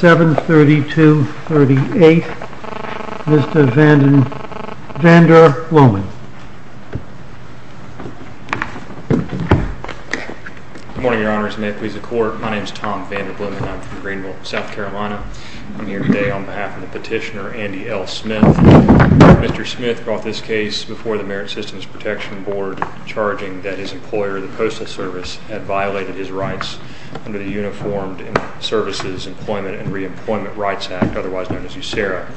732-38 Mr. Vander Blumen Good morning, your honors. May it please the court. My name is Tom Vander Blumen. I'm from Greenville, South Carolina. I'm here today on behalf of the petitioner Andy L. Smith. Mr. Smith brought this case before the Merit Systems Protection Board charging that his employer, the Postal Service, had violated his rights under the Uniformed Services Employment and Reemployment Rights Act, otherwise known as USERRA.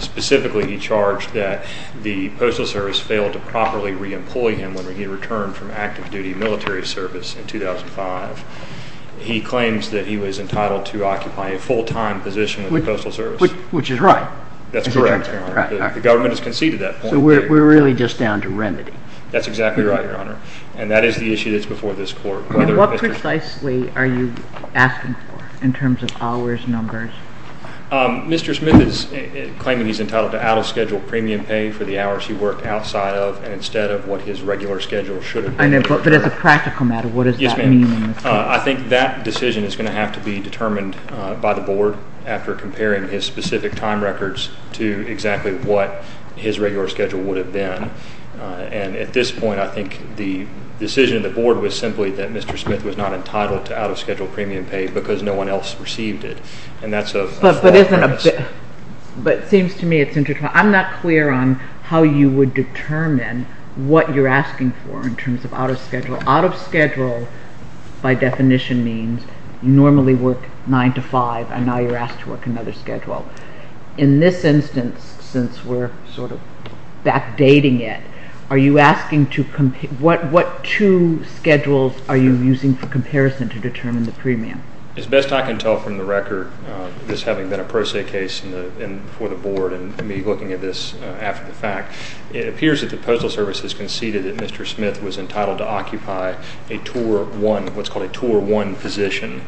Specifically, he charged that the Postal Service failed to properly re-employ him when he returned from active duty military service in 2005. He claims that he was entitled to occupy a full-time position with the Postal Service. Which is right. That's correct, your honor. The government has conceded that point. So we're really just down to remedy. That's exactly right, your honor. And that is the issue that's before this court. What precisely are you asking for in terms of hours, numbers? Mr. Smith is claiming he's entitled to out-of-schedule premium pay for the hours he worked outside of instead of what his regular schedule should have been. But as a practical matter, what does that mean? Yes, ma'am. I think that decision is going to have to be determined by the board after comparing his specific time records to exactly what his regular schedule would have been. And at this point, I think the decision of the board was simply that Mr. Smith was not entitled to out-of-schedule premium pay because no one else received it. And that's a false premise. But it seems to me it's intertwined. I'm not clear on how you would determine what you're asking for in terms of out-of-schedule. Out-of-schedule, by definition, means you normally work 9 to 5, and now you're asked to work another schedule. In this instance, since we're sort of backdating it, what two schedules are you using for comparison to determine the premium? As best I can tell from the record, this having been a pro se case for the board and me looking at this after the fact, it appears that the Postal Service has conceded that Mr. Smith was entitled to occupy a tour one, what's called a tour one position,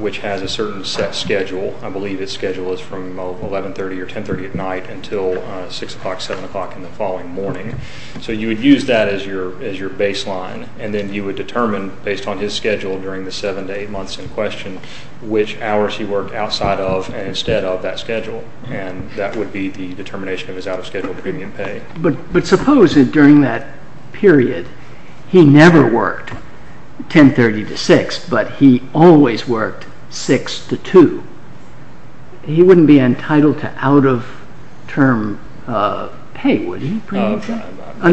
which has a certain set schedule. I believe its schedule is from 11.30 or 10.30 at night until 6 o'clock, 7 o'clock in the following morning. So you would use that as your baseline, and then you would determine based on his schedule during the 7 to 8 months in question which hours he worked outside of and instead of that schedule. And that would be the determination of his out-of-schedule premium pay. But suppose that during that period he never worked 10.30 to 6, but he always worked 6 to 2. He wouldn't be entitled to out-of-term pay, would he? I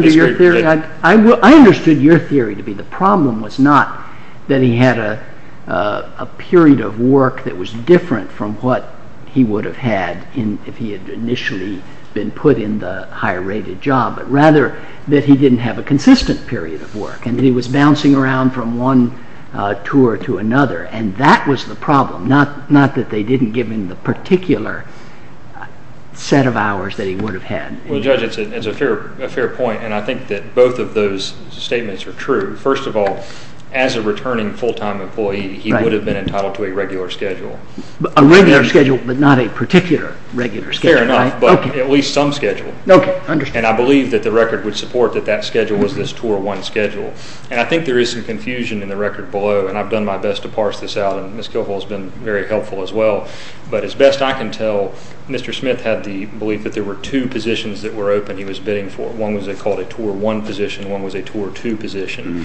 understood your theory to be the problem was not that he had a period of work that was different from what he would have had if he had initially been put in the higher rated job, but rather that he didn't have a consistent period of work and that he was bouncing around from one tour to another. And that was the problem, not that they didn't give him the particular set of hours that he would have had. Well, Judge, it's a fair point, and I think that both of those statements are true. First of all, as a returning full-time employee, he would have been entitled to a regular schedule. A regular schedule, but not a particular regular schedule, right? Fair enough, but at least some schedule. Okay, I understand. And I believe that the record would support that that schedule was this Tour 1 schedule. And I think there is some confusion in the record below, and I've done my best to parse this out, and Ms. Kilholz has been very helpful as well. But as best I can tell, Mr. Smith had the belief that there were two positions that were open he was bidding for. One was called a Tour 1 position, and one was a Tour 2 position.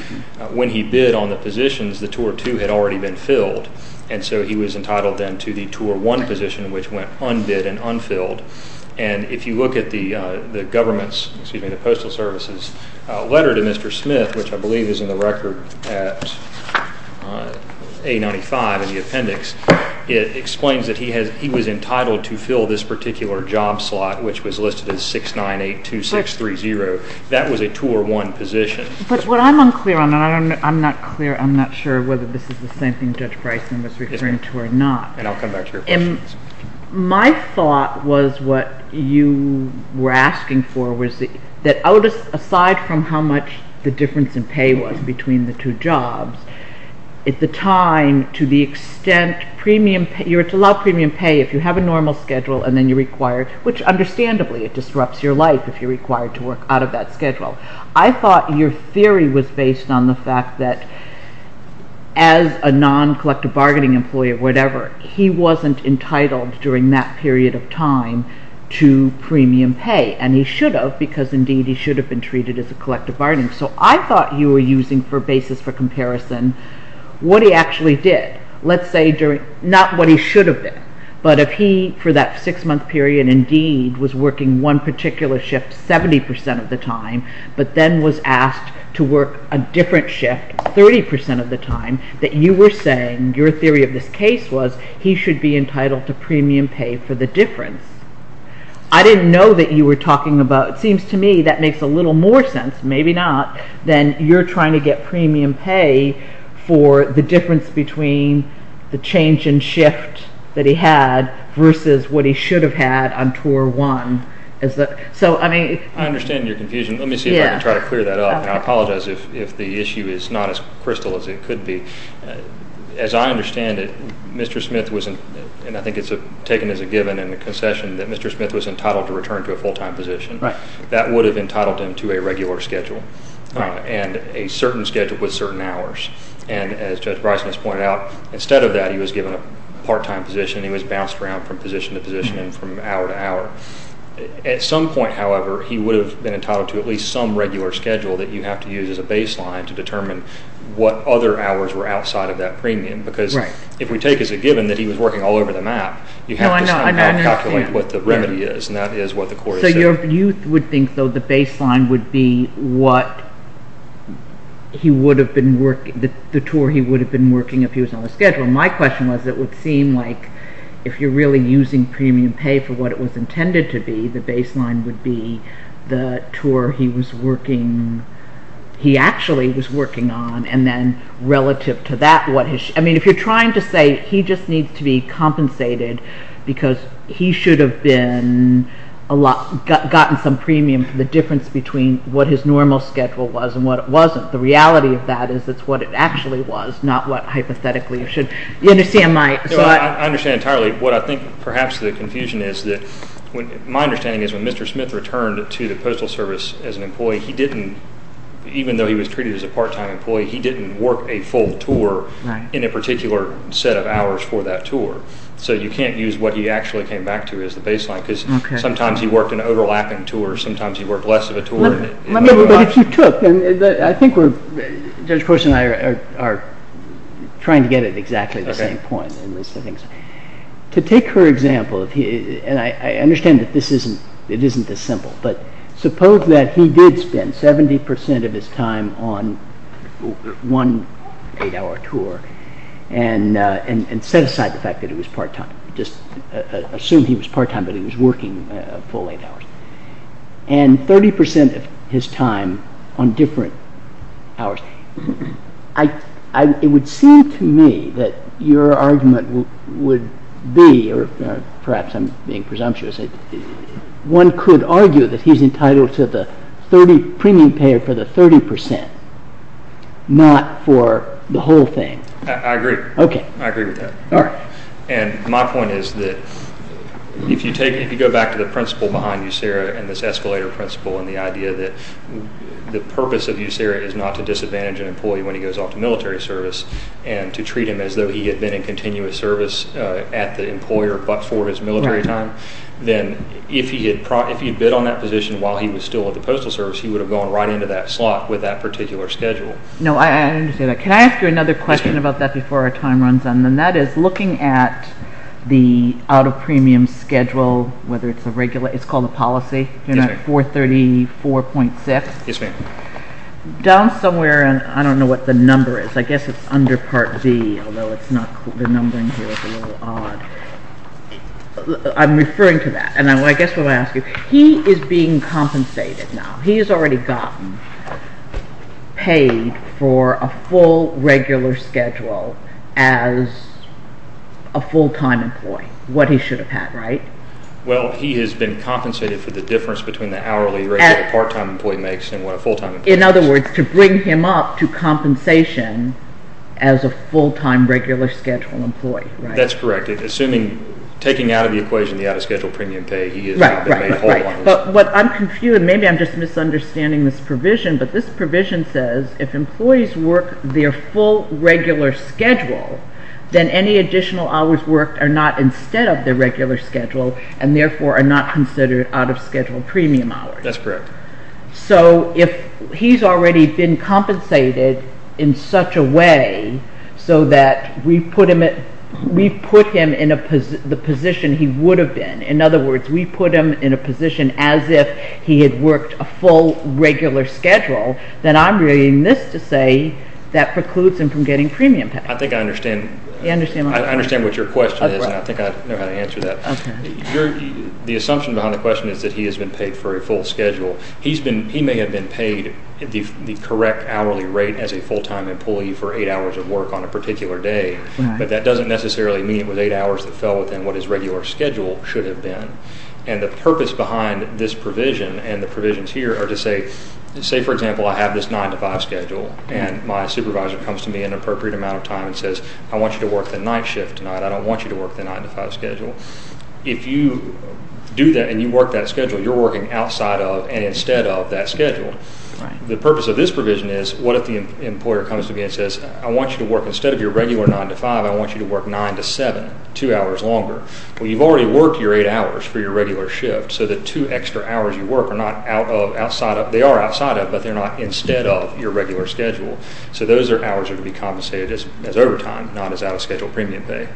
When he bid on the positions, the Tour 2 had already been filled, and so he was entitled then to the Tour 1 position, which went unbid and unfilled. And if you look at the government's, excuse me, the Postal Service's letter to Mr. Smith, which I believe is in the record at 895 in the appendix, it explains that he was entitled to fill this particular job slot, which was listed as 6982630. That was a Tour 1 position. But what I'm unclear on, and I'm not sure whether this is the same thing Judge Bryson was referring to or not. And I'll come back to your questions. My thought was what you were asking for, was that aside from how much the difference in pay was between the two jobs, at the time, to the extent premium, you were to allow premium pay if you have a normal schedule, and then you're required, which understandably, it disrupts your life if you're required to work out of that schedule. I thought your theory was based on the fact that as a non-collective bargaining employee or whatever, he wasn't entitled during that period of time to premium pay. And he should have because, indeed, he should have been treated as a collective bargaining. So I thought you were using for basis for comparison what he actually did. Let's say not what he should have been. But if he, for that six-month period, indeed, was working one particular shift 70% of the time, but then was asked to work a different shift 30% of the time, that you were saying your theory of this case was he should be entitled to premium pay for the difference. I didn't know that you were talking about, it seems to me that makes a little more sense, maybe not, than you're trying to get premium pay for the difference between the change in shift that he had versus what he should have had on tour one. I understand your confusion. Let me see if I can try to clear that up. I apologize if the issue is not as crystal as it could be. As I understand it, Mr. Smith was, and I think it's taken as a given in the concession, that Mr. Smith was entitled to return to a full-time position. That would have entitled him to a regular schedule and a certain schedule with certain hours. And as Judge Bryson has pointed out, instead of that, he was given a part-time position. He was bounced around from position to position and from hour to hour. At some point, however, he would have been entitled to at least some regular schedule that you have to use as a baseline to determine what other hours were outside of that premium. Because if we take as a given that he was working all over the map, you have to somehow calculate what the remedy is, and that is what the court has said. So you would think, though, the baseline would be what he would have been working, the tour he would have been working if he was on the schedule. My question was it would seem like if you're really using premium pay for what it was intended to be, the baseline would be the tour he was working, he actually was working on, and then relative to that what his, I mean, if you're trying to say he just needs to be compensated because he should have been, gotten some premium for the difference between what his normal schedule was and what it wasn't, the reality of that is it's what it actually was, not what hypothetically you should, you understand my... I understand entirely. What I think perhaps the confusion is that, my understanding is when Mr. Smith returned to the Postal Service as an employee, he didn't, even though he was treated as a part-time employee, he didn't work a full tour in a particular set of hours for that tour. So you can't use what he actually came back to as the baseline because sometimes he worked an overlapping tour, sometimes he worked less of a tour. But if you took, I think we're, Judge Croson and I are trying to get at exactly the same point. To take her example, and I understand that this isn't, it isn't this simple, but suppose that he did spend 70% of his time on one eight-hour tour and set aside the fact that it was part-time, just assume he was part-time, but he was working full eight hours, and 30% of his time on different hours. It would seem to me that your argument would be, or perhaps I'm being presumptuous, one could argue that he's entitled to the premium payer for the 30%, not for the whole thing. I agree. I agree with that. And my point is that if you go back to the principle behind USERRA and this escalator principle and the idea that the purpose of USERRA is not to disadvantage an employee when he goes off to military service and to treat him as though he had been in continuous service at the employer but for his military time, then if he had been on that position while he was still at the Postal Service, he would have gone right into that slot with that particular schedule. No, I understand that. Can I ask you another question about that before our time runs out? And that is looking at the out-of-premium schedule, whether it's a regular – it's called a policy? Yes, ma'am. 434.6? Yes, ma'am. Down somewhere – I don't know what the number is. I guess it's under Part B, although the numbering here is a little odd. I'm referring to that. He is being compensated now. He has already gotten paid for a full regular schedule as a full-time employee. What he should have had, right? Well, he has been compensated for the difference between the hourly rate that a part-time employee makes and what a full-time employee makes. In other words, to bring him up to compensation as a full-time regular schedule employee, right? That's correct. Assuming – taking out of the equation the out-of-schedule premium pay, he has not been made whole. But what I'm confused – maybe I'm just misunderstanding this provision, but this provision says if employees work their full regular schedule, then any additional hours worked are not instead of their regular schedule and therefore are not considered out-of-schedule premium hours. That's correct. So if he's already been compensated in such a way so that we put him in the position he would have been – in other words, we put him in a position as if he had worked a full regular schedule, then I'm reading this to say that precludes him from getting premium pay. I think I understand what your question is, and I think I know how to answer that. The assumption behind the question is that he has been paid for a full schedule. He may have been paid the correct hourly rate as a full-time employee for 8 hours of work on a particular day, but that doesn't necessarily mean it was 8 hours that fell within what his regular schedule should have been. And the purpose behind this provision and the provisions here are to say – say, for example, I have this 9-to-5 schedule, and my supervisor comes to me in an appropriate amount of time and says, I want you to work the night shift tonight. I don't want you to work the 9-to-5 schedule. If you do that and you work that schedule, you're working outside of and instead of that schedule. The purpose of this provision is what if the employer comes to me and says, I want you to work – instead of your regular 9-to-5, I want you to work 9-to-7, 2 hours longer. Well, you've already worked your 8 hours for your regular shift, so the 2 extra hours you work are not outside of – they are outside of, but they're not instead of your regular schedule. So those hours are to be compensated as overtime, not as out-of-schedule premium pay.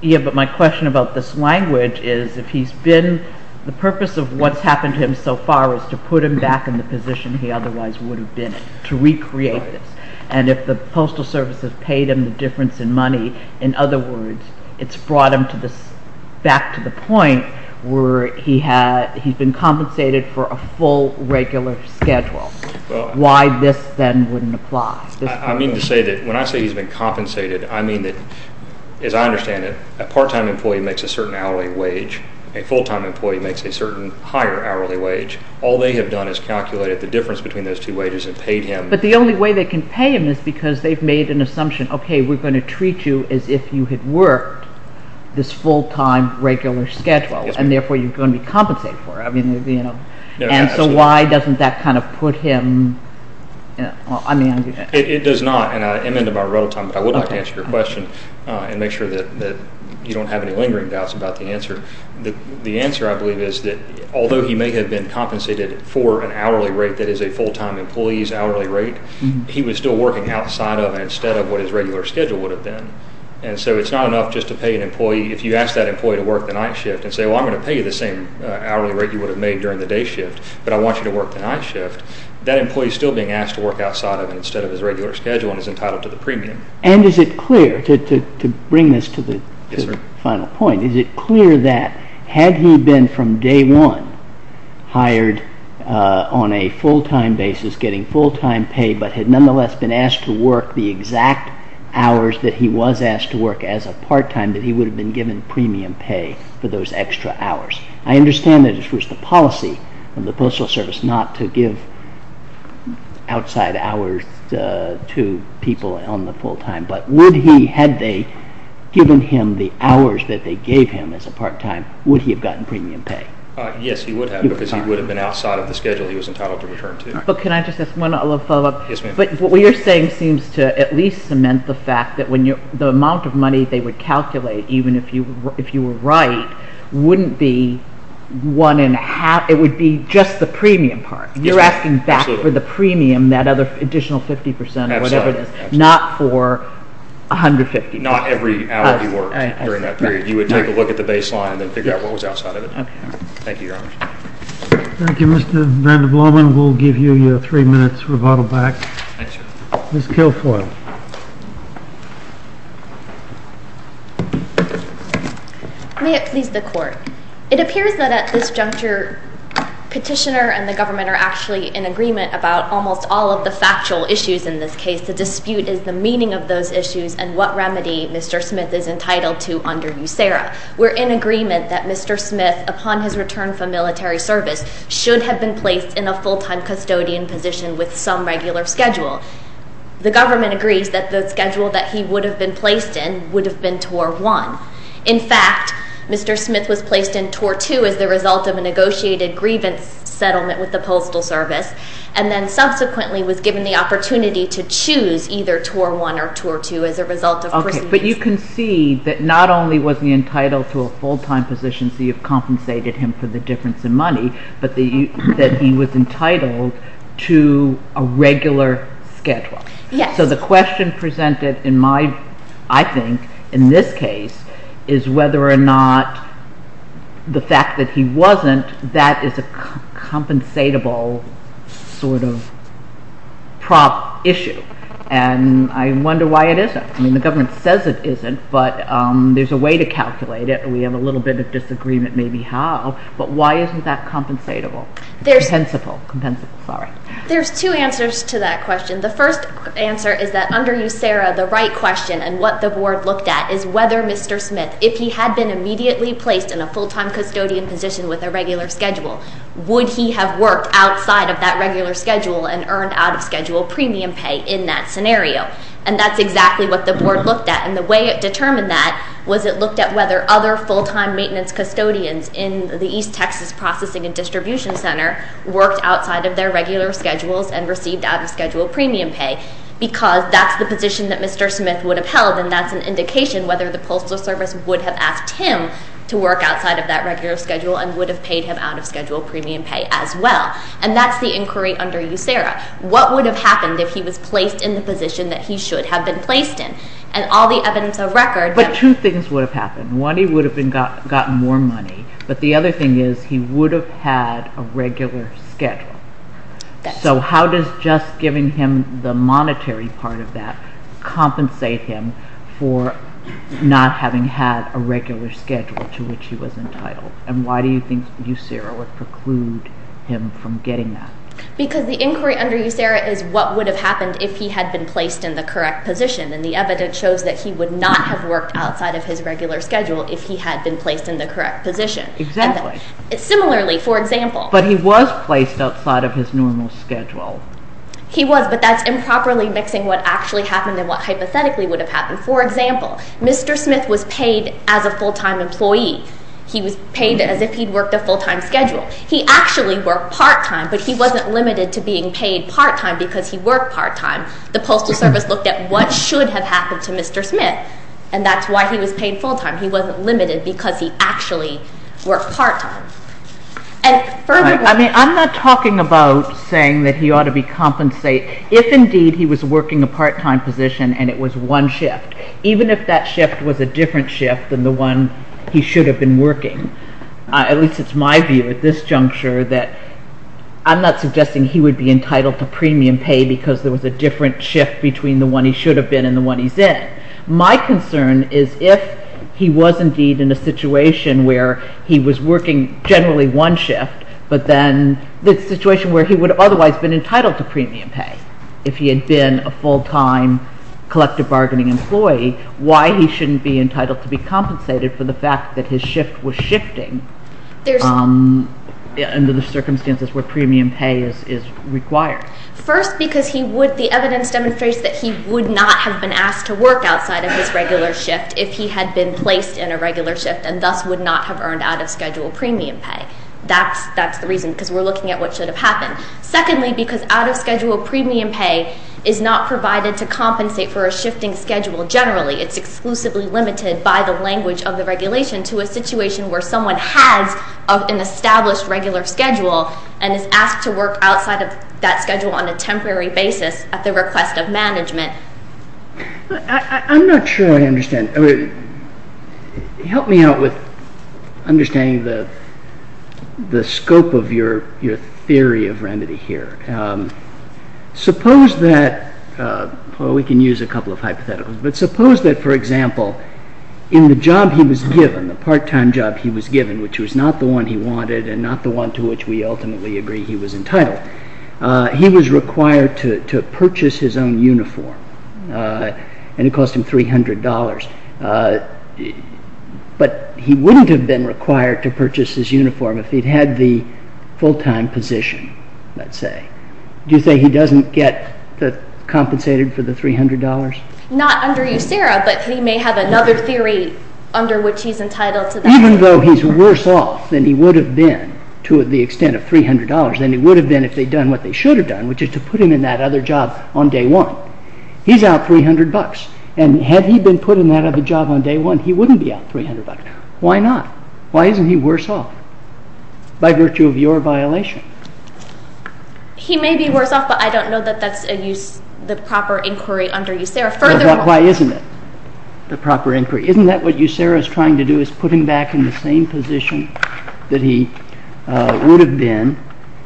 Yeah, but my question about this language is if he's been – the purpose of what's happened to him so far is to put him back in the position he otherwise would have been in, to recreate this. And if the Postal Service has paid him the difference in money, in other words, it's brought him back to the point where he had – he's been compensated for a full regular schedule. Why this then wouldn't apply? I mean to say that when I say he's been compensated, I mean that, as I understand it, a part-time employee makes a certain hourly wage. A full-time employee makes a certain higher hourly wage. All they have done is calculated the difference between those 2 wages and paid him – But the only way they can pay him is because they've made an assumption, okay, we're going to treat you as if you had worked this full-time regular schedule, and therefore you're going to be compensated for. And so why doesn't that kind of put him – It does not, and I am into my real time, but I would like to answer your question and make sure that you don't have any lingering doubts about the answer. The answer, I believe, is that although he may have been compensated for an hourly rate that is a full-time employee's hourly rate, he was still working outside of and instead of what his regular schedule would have been. And so it's not enough just to pay an employee. If you ask that employee to work the night shift and say, well, I'm going to pay you the same hourly rate you would have made during the day shift, but I want you to work the night shift, that employee is still being asked to work outside of and instead of his regular schedule and is entitled to the premium. And is it clear, to bring this to the final point, is it clear that had he been from day 1 hired on a full-time basis, getting full-time pay but had nonetheless been asked to work the exact hours that he was asked to work as a part-time, that he would have been given premium pay for those extra hours? I understand that this was the policy of the Postal Service not to give outside hours to people on the full-time, but would he, had they given him the hours that they gave him as a part-time, would he have gotten premium pay? Yes, he would have because he would have been outside of the schedule he was entitled to return to. But can I just ask one follow-up? Yes, ma'am. But what you're saying seems to at least cement the fact that the amount of money they would calculate, even if you were right, wouldn't be one and a half, it would be just the premium part. Yes, ma'am. You're asking back for the premium, that additional 50% or whatever it is. Absolutely. Not for 150%. Not every hour he worked during that period. You would take a look at the baseline and figure out what was outside of it. Okay. Thank you, Your Honor. Thank you. Mr. Vandervlomen, we'll give you your 3 minutes rebuttal back. Thank you, sir. Ms. Kilfoyle. May it please the Court. It appears that at this juncture, Petitioner and the government are actually in agreement about almost all of the factual issues in this case. The dispute is the meaning of those issues and what remedy Mr. Smith is entitled to under USERRA. We're in agreement that Mr. Smith, upon his return from military service, should have been placed in a full-time custodian position with some regular schedule. The government agrees that the schedule that he would have been placed in would have been Tour 1. In fact, Mr. Smith was placed in Tour 2 as the result of a negotiated grievance settlement with the Postal Service and then subsequently was given the opportunity to choose either Tour 1 or Tour 2 as a result of proceedings. Okay. But you can see that not only was he entitled to a full-time position so you've compensated him for the difference in money, but that he was entitled to a regular schedule. Yes. So the question presented in my, I think, in this case, is whether or not the fact that he wasn't, that is a compensatable sort of issue. And I wonder why it isn't. I mean the government says it isn't, but there's a way to calculate it and we have a little bit of disagreement maybe how, but why isn't that compensatable, compensable, sorry. There's two answers to that question. The first answer is that under USERRA the right question and what the Board looked at is whether Mr. Smith, if he had been immediately placed in a full-time custodian position with a regular schedule, would he have worked outside of that regular schedule and earned out-of-schedule premium pay in that scenario. And that's exactly what the Board looked at. And the way it determined that was it looked at whether other full-time maintenance custodians in the East Texas Processing and Distribution Center worked outside of their regular schedules and received out-of-schedule premium pay because that's the position that Mr. Smith would have held and that's an indication whether the Postal Service would have asked him to work outside of that regular schedule and would have paid him out-of-schedule premium pay as well. And that's the inquiry under USERRA. What would have happened if he was placed in the position that he should have been placed in? And all the evidence of record. But two things would have happened. One, he would have gotten more money. But the other thing is he would have had a regular schedule. So how does just giving him the monetary part of that compensate him for not having had a regular schedule to which he was entitled? And why do you think USERRA would preclude him from getting that? Because the inquiry under USERRA is what would have happened if he had been placed in the correct position. And the evidence shows that he would not have worked outside of his regular schedule if he had been placed in the correct position. Exactly. Similarly, for example. But he was placed outside of his normal schedule. He was, but that's improperly mixing what actually happened and what hypothetically would have happened. For example, Mr. Smith was paid as a full-time employee. He was paid as if he'd worked a full-time schedule. He actually worked part-time, but he wasn't limited to being paid part-time because he worked part-time. The Postal Service looked at what should have happened to Mr. Smith, and that's why he was paid full-time. He wasn't limited because he actually worked part-time. I'm not talking about saying that he ought to be compensated if indeed he was working a part-time position and it was one shift, even if that shift was a different shift than the one he should have been working. At least it's my view at this juncture that I'm not suggesting he would be entitled to premium pay because there was a different shift between the one he should have been and the one he's in. My concern is if he was indeed in a situation where he was working generally one shift, but then the situation where he would have otherwise been entitled to premium pay if he had been a full-time collective bargaining employee, why he shouldn't be entitled to be compensated for the fact that his shift was shifting under the circumstances where premium pay is required. First, because the evidence demonstrates that he would not have been asked to work outside of his regular shift if he had been placed in a regular shift and thus would not have earned out-of-schedule premium pay. That's the reason, because we're looking at what should have happened. Secondly, because out-of-schedule premium pay is not provided to compensate for a shifting schedule generally. It's exclusively limited by the language of the regulation to a situation where someone has an established regular schedule and is asked to work outside of that schedule on a temporary basis at the request of management. I'm not sure I understand. Help me out with understanding the scope of your theory of remedy here. Suppose that, well, we can use a couple of hypotheticals, but suppose that, for example, in the job he was given, the part-time job he was given, which was not the one he wanted and not the one to which we ultimately agree he was entitled, he was required to purchase his own uniform, and it cost him $300. But he wouldn't have been required to purchase his uniform if he'd had the full-time position, let's say. Do you think he doesn't get compensated for the $300? Not under USERRA, but he may have another theory under which he's entitled to that. Even though he's worse off than he would have been to the extent of $300 than he would have been if they'd done what they should have done, which is to put him in that other job on day one, he's out $300. And had he been put in that other job on day one, he wouldn't be out $300. Why not? Why isn't he worse off by virtue of your violation? He may be worse off, but I don't know that that's the proper inquiry under USERRA. Why isn't it the proper inquiry? Isn't that what USERRA is trying to do, is put him back in the same position that he would have been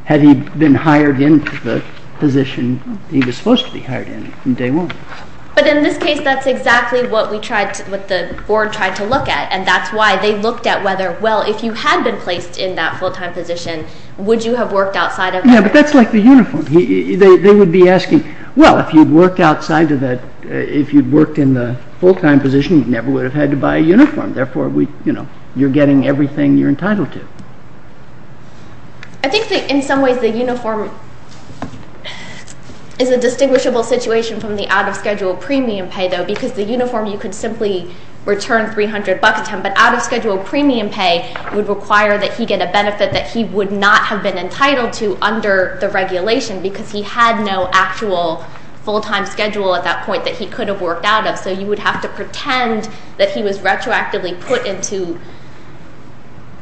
had he been hired into the position he was supposed to be hired in on day one? But in this case, that's exactly what the board tried to look at, and that's why they looked at whether, well, if you had been placed in that full-time position, would you have worked outside of that? Yeah, but that's like the uniform. They would be asking, well, if you'd worked outside of that, if you'd worked in the full-time position, you never would have had to buy a uniform. Therefore, you're getting everything you're entitled to. I think that in some ways the uniform is a distinguishable situation from the out-of-schedule premium pay, though, because the uniform you could simply return $300 to him, but out-of-schedule premium pay would require that he get a benefit that he would not have been entitled to under the regulation because he had no actual full-time schedule at that point that he could have worked out of, so you would have to pretend that he was retroactively put into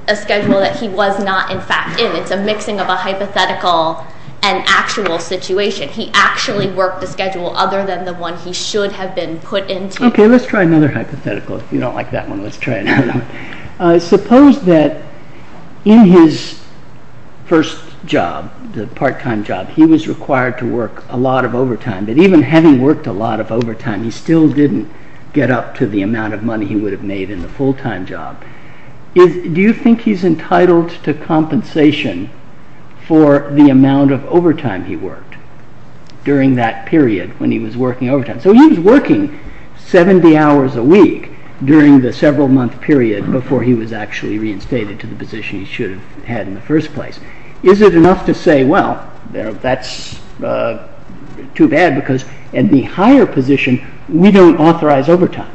a schedule that he was not in fact in. It's a mixing of a hypothetical and actual situation. He actually worked a schedule other than the one he should have been put into. Okay, let's try another hypothetical. If you don't like that one, let's try another one. Suppose that in his first job, the part-time job, he was required to work a lot of overtime, but even having worked a lot of overtime, he still didn't get up to the amount of money he would have made in the full-time job. Do you think he's entitled to compensation for the amount of overtime he worked during that period when he was working overtime? So he was working 70 hours a week during the several-month period before he was actually reinstated to the position he should have had in the first place. Is it enough to say, well, that's too bad because at the higher position, we don't authorize overtime?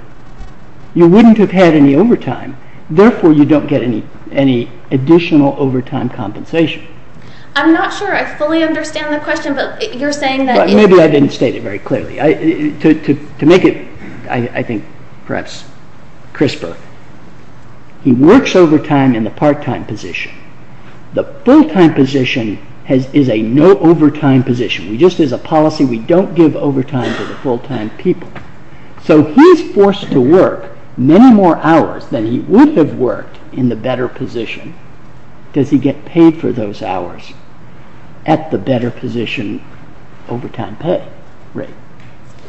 You wouldn't have had any overtime, therefore you don't get any additional overtime compensation. I'm not sure I fully understand the question, but you're saying that… Well, maybe I didn't state it very clearly. To make it, I think, perhaps crisper, he works overtime in the part-time position. The full-time position is a no-overtime position. We just, as a policy, we don't give overtime to the full-time people. So he's forced to work many more hours than he would have worked in the better position does he get paid for those hours at the better position overtime pay rate?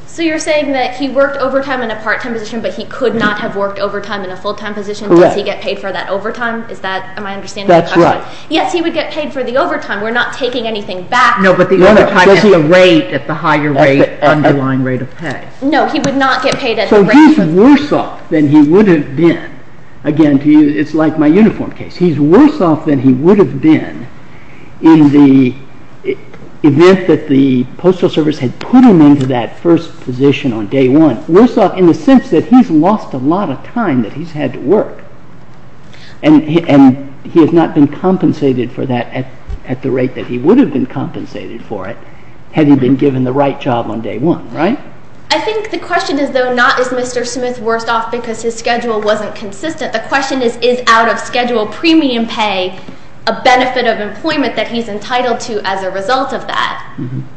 So you're saying that he worked overtime in a part-time position, but he could not have worked overtime in a full-time position? Correct. Does he get paid for that overtime? Is that, am I understanding the question? That's right. Yes, he would get paid for the overtime. We're not taking anything back. No, but the overtime at the rate, at the higher rate… At the underlying rate of pay. No, he would not get paid at the rate of… So he's worse off than he would have been. Again, it's like my uniform case. He's worse off than he would have been in the event that the Postal Service had put him into that first position on day one. Worse off in the sense that he's lost a lot of time that he's had to work. And he has not been compensated for that at the rate that he would have been compensated for it had he been given the right job on day one, right? I think the question is though not is Mr. Smith worse off because his schedule wasn't consistent. The question is, is out-of-schedule premium pay a benefit of employment that he's entitled to as a result of that,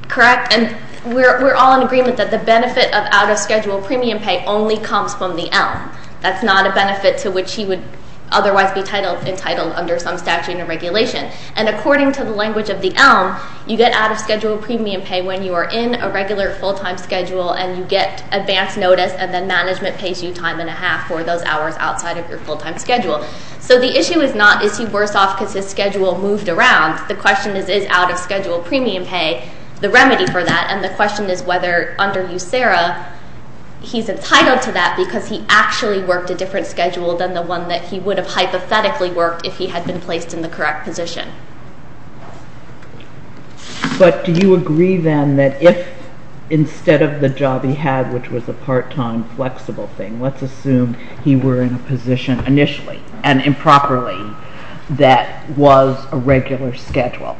correct? And we're all in agreement that the benefit of out-of-schedule premium pay only comes from the ELM. That's not a benefit to which he would otherwise be entitled under some statute or regulation. And according to the language of the ELM, you get out-of-schedule premium pay when you are in a regular full-time schedule and you get advance notice and then management pays you time and a half for those hours outside of your full-time schedule. So the issue is not is he worse off because his schedule moved around. The question is, is out-of-schedule premium pay the remedy for that? And the question is whether under USERRA he's entitled to that because he actually worked a different schedule than the one that he would have hypothetically worked if he had been placed in the correct position. But do you agree then that if instead of the job he had, which was a part-time flexible thing, let's assume he were in a position initially and improperly that was a regular schedule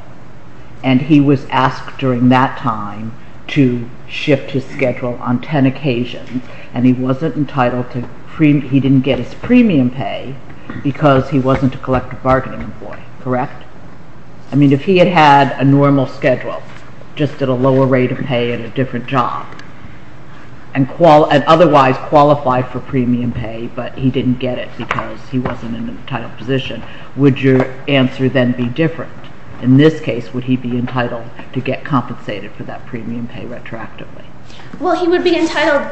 and he was asked during that time to shift his schedule on 10 occasions and he wasn't entitled to, he didn't get his premium pay because he wasn't a collective bargaining employee, correct? I mean if he had had a normal schedule, just at a lower rate of pay and a different job and otherwise qualified for premium pay but he didn't get it because he wasn't in an entitled position, would your answer then be different? In this case, would he be entitled to get compensated for that premium pay retroactively? Well, he would be entitled,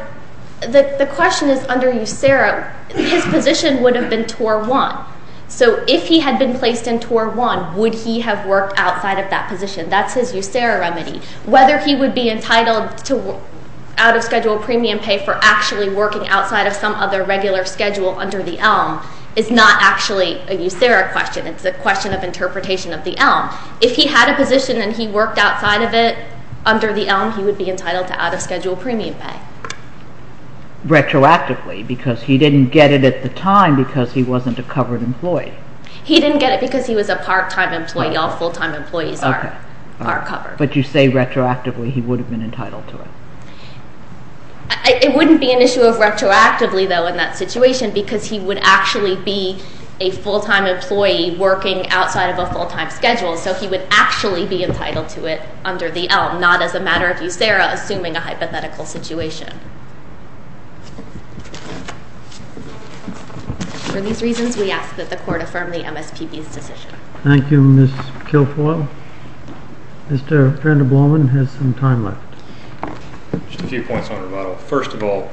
the question is under USERRA, his position would have been Tor 1. So if he had been placed in Tor 1, would he have worked outside of that position? That's his USERRA remedy. Whether he would be entitled to out-of-schedule premium pay for actually working outside of some other regular schedule under the ELM is not actually a USERRA question. It's a question of interpretation of the ELM. If he had a position and he worked outside of it under the ELM, he would be entitled to out-of-schedule premium pay. Retroactively because he didn't get it at the time because he wasn't a covered employee. He didn't get it because he was a part-time employee. All full-time employees are covered. But you say retroactively he would have been entitled to it. It wouldn't be an issue of retroactively though in that situation because he would actually be a full-time employee working outside of a full-time schedule. So he would actually be entitled to it under the ELM, not as a matter of USERRA assuming a hypothetical situation. For these reasons, we ask that the Court affirm the MSPB's decision. Thank you, Ms. Kilfoyle. Mr. Brenda Bloman has some time left. Just a few points on rebuttal. First of all,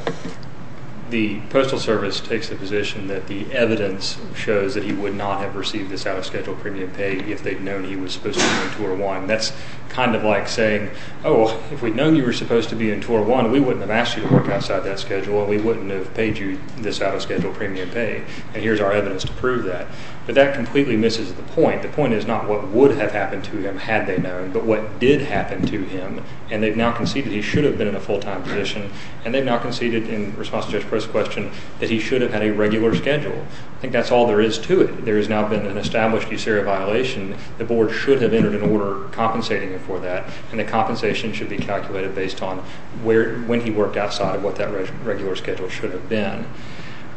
the Postal Service takes the position that the evidence shows that he would not have received this out-of-schedule premium pay if they'd known he was supposed to be doing 201. That's kind of like saying, oh, if we'd known you were supposed to be in 201, we wouldn't have asked you to work outside that schedule and we wouldn't have paid you this out-of-schedule premium pay. And here's our evidence to prove that. But that completely misses the point. The point is not what would have happened to him had they known, but what did happen to him. And they've now conceded he should have been in a full-time position. And they've now conceded in response to Judge Prost's question that he should have had a regular schedule. I think that's all there is to it. There has now been an established USERRA violation. The Board should have entered an order compensating him for that, and the compensation should be calculated based on when he worked outside of what that regular schedule should have been.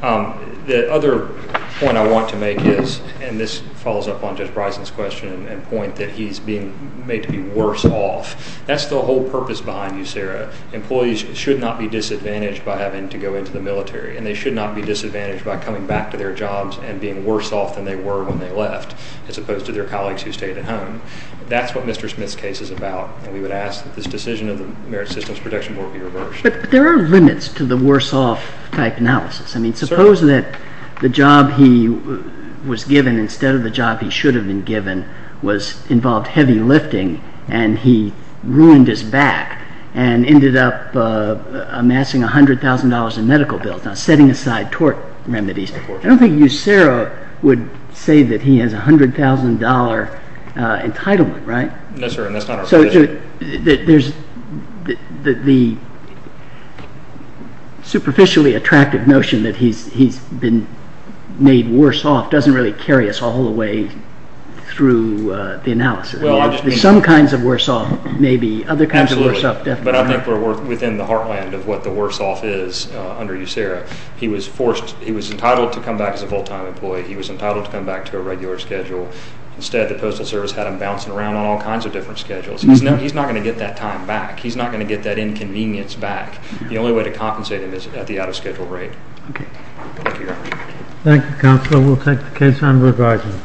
The other point I want to make is, and this follows up on Judge Bryson's question and point that he's being made to be worse off. That's the whole purpose behind USERRA. Employees should not be disadvantaged by having to go into the military, and they should not be disadvantaged by coming back to their jobs and being worse off than they were when they left as opposed to their colleagues who stayed at home. That's what Mr. Smith's case is about, and we would ask that this decision of the Merit Systems Protection Board be reversed. But there are limits to the worse-off type analysis. I mean, suppose that the job he was given instead of the job he should have been given involved heavy lifting, and he ruined his back and ended up amassing $100,000 in medical bills, now setting aside tort remedies. I don't think USERRA would say that he has a $100,000 entitlement, right? No, sir, and that's not our position. So the superficially attractive notion that he's been made worse off doesn't really carry us all the way through the analysis. Some kinds of worse off may be other kinds of worse off. Absolutely, but I think we're within the heartland of what the worse off is under USERRA. He was forced. He was entitled to come back as a full-time employee. He was entitled to come back to a regular schedule. Instead, the Postal Service had him bouncing around on all kinds of different schedules. He's not going to get that time back. He's not going to get that inconvenience back. The only way to compensate him is at the out-of-schedule rate. Thank you, Your Honor. Thank you, Counselor. We'll take the case under revising.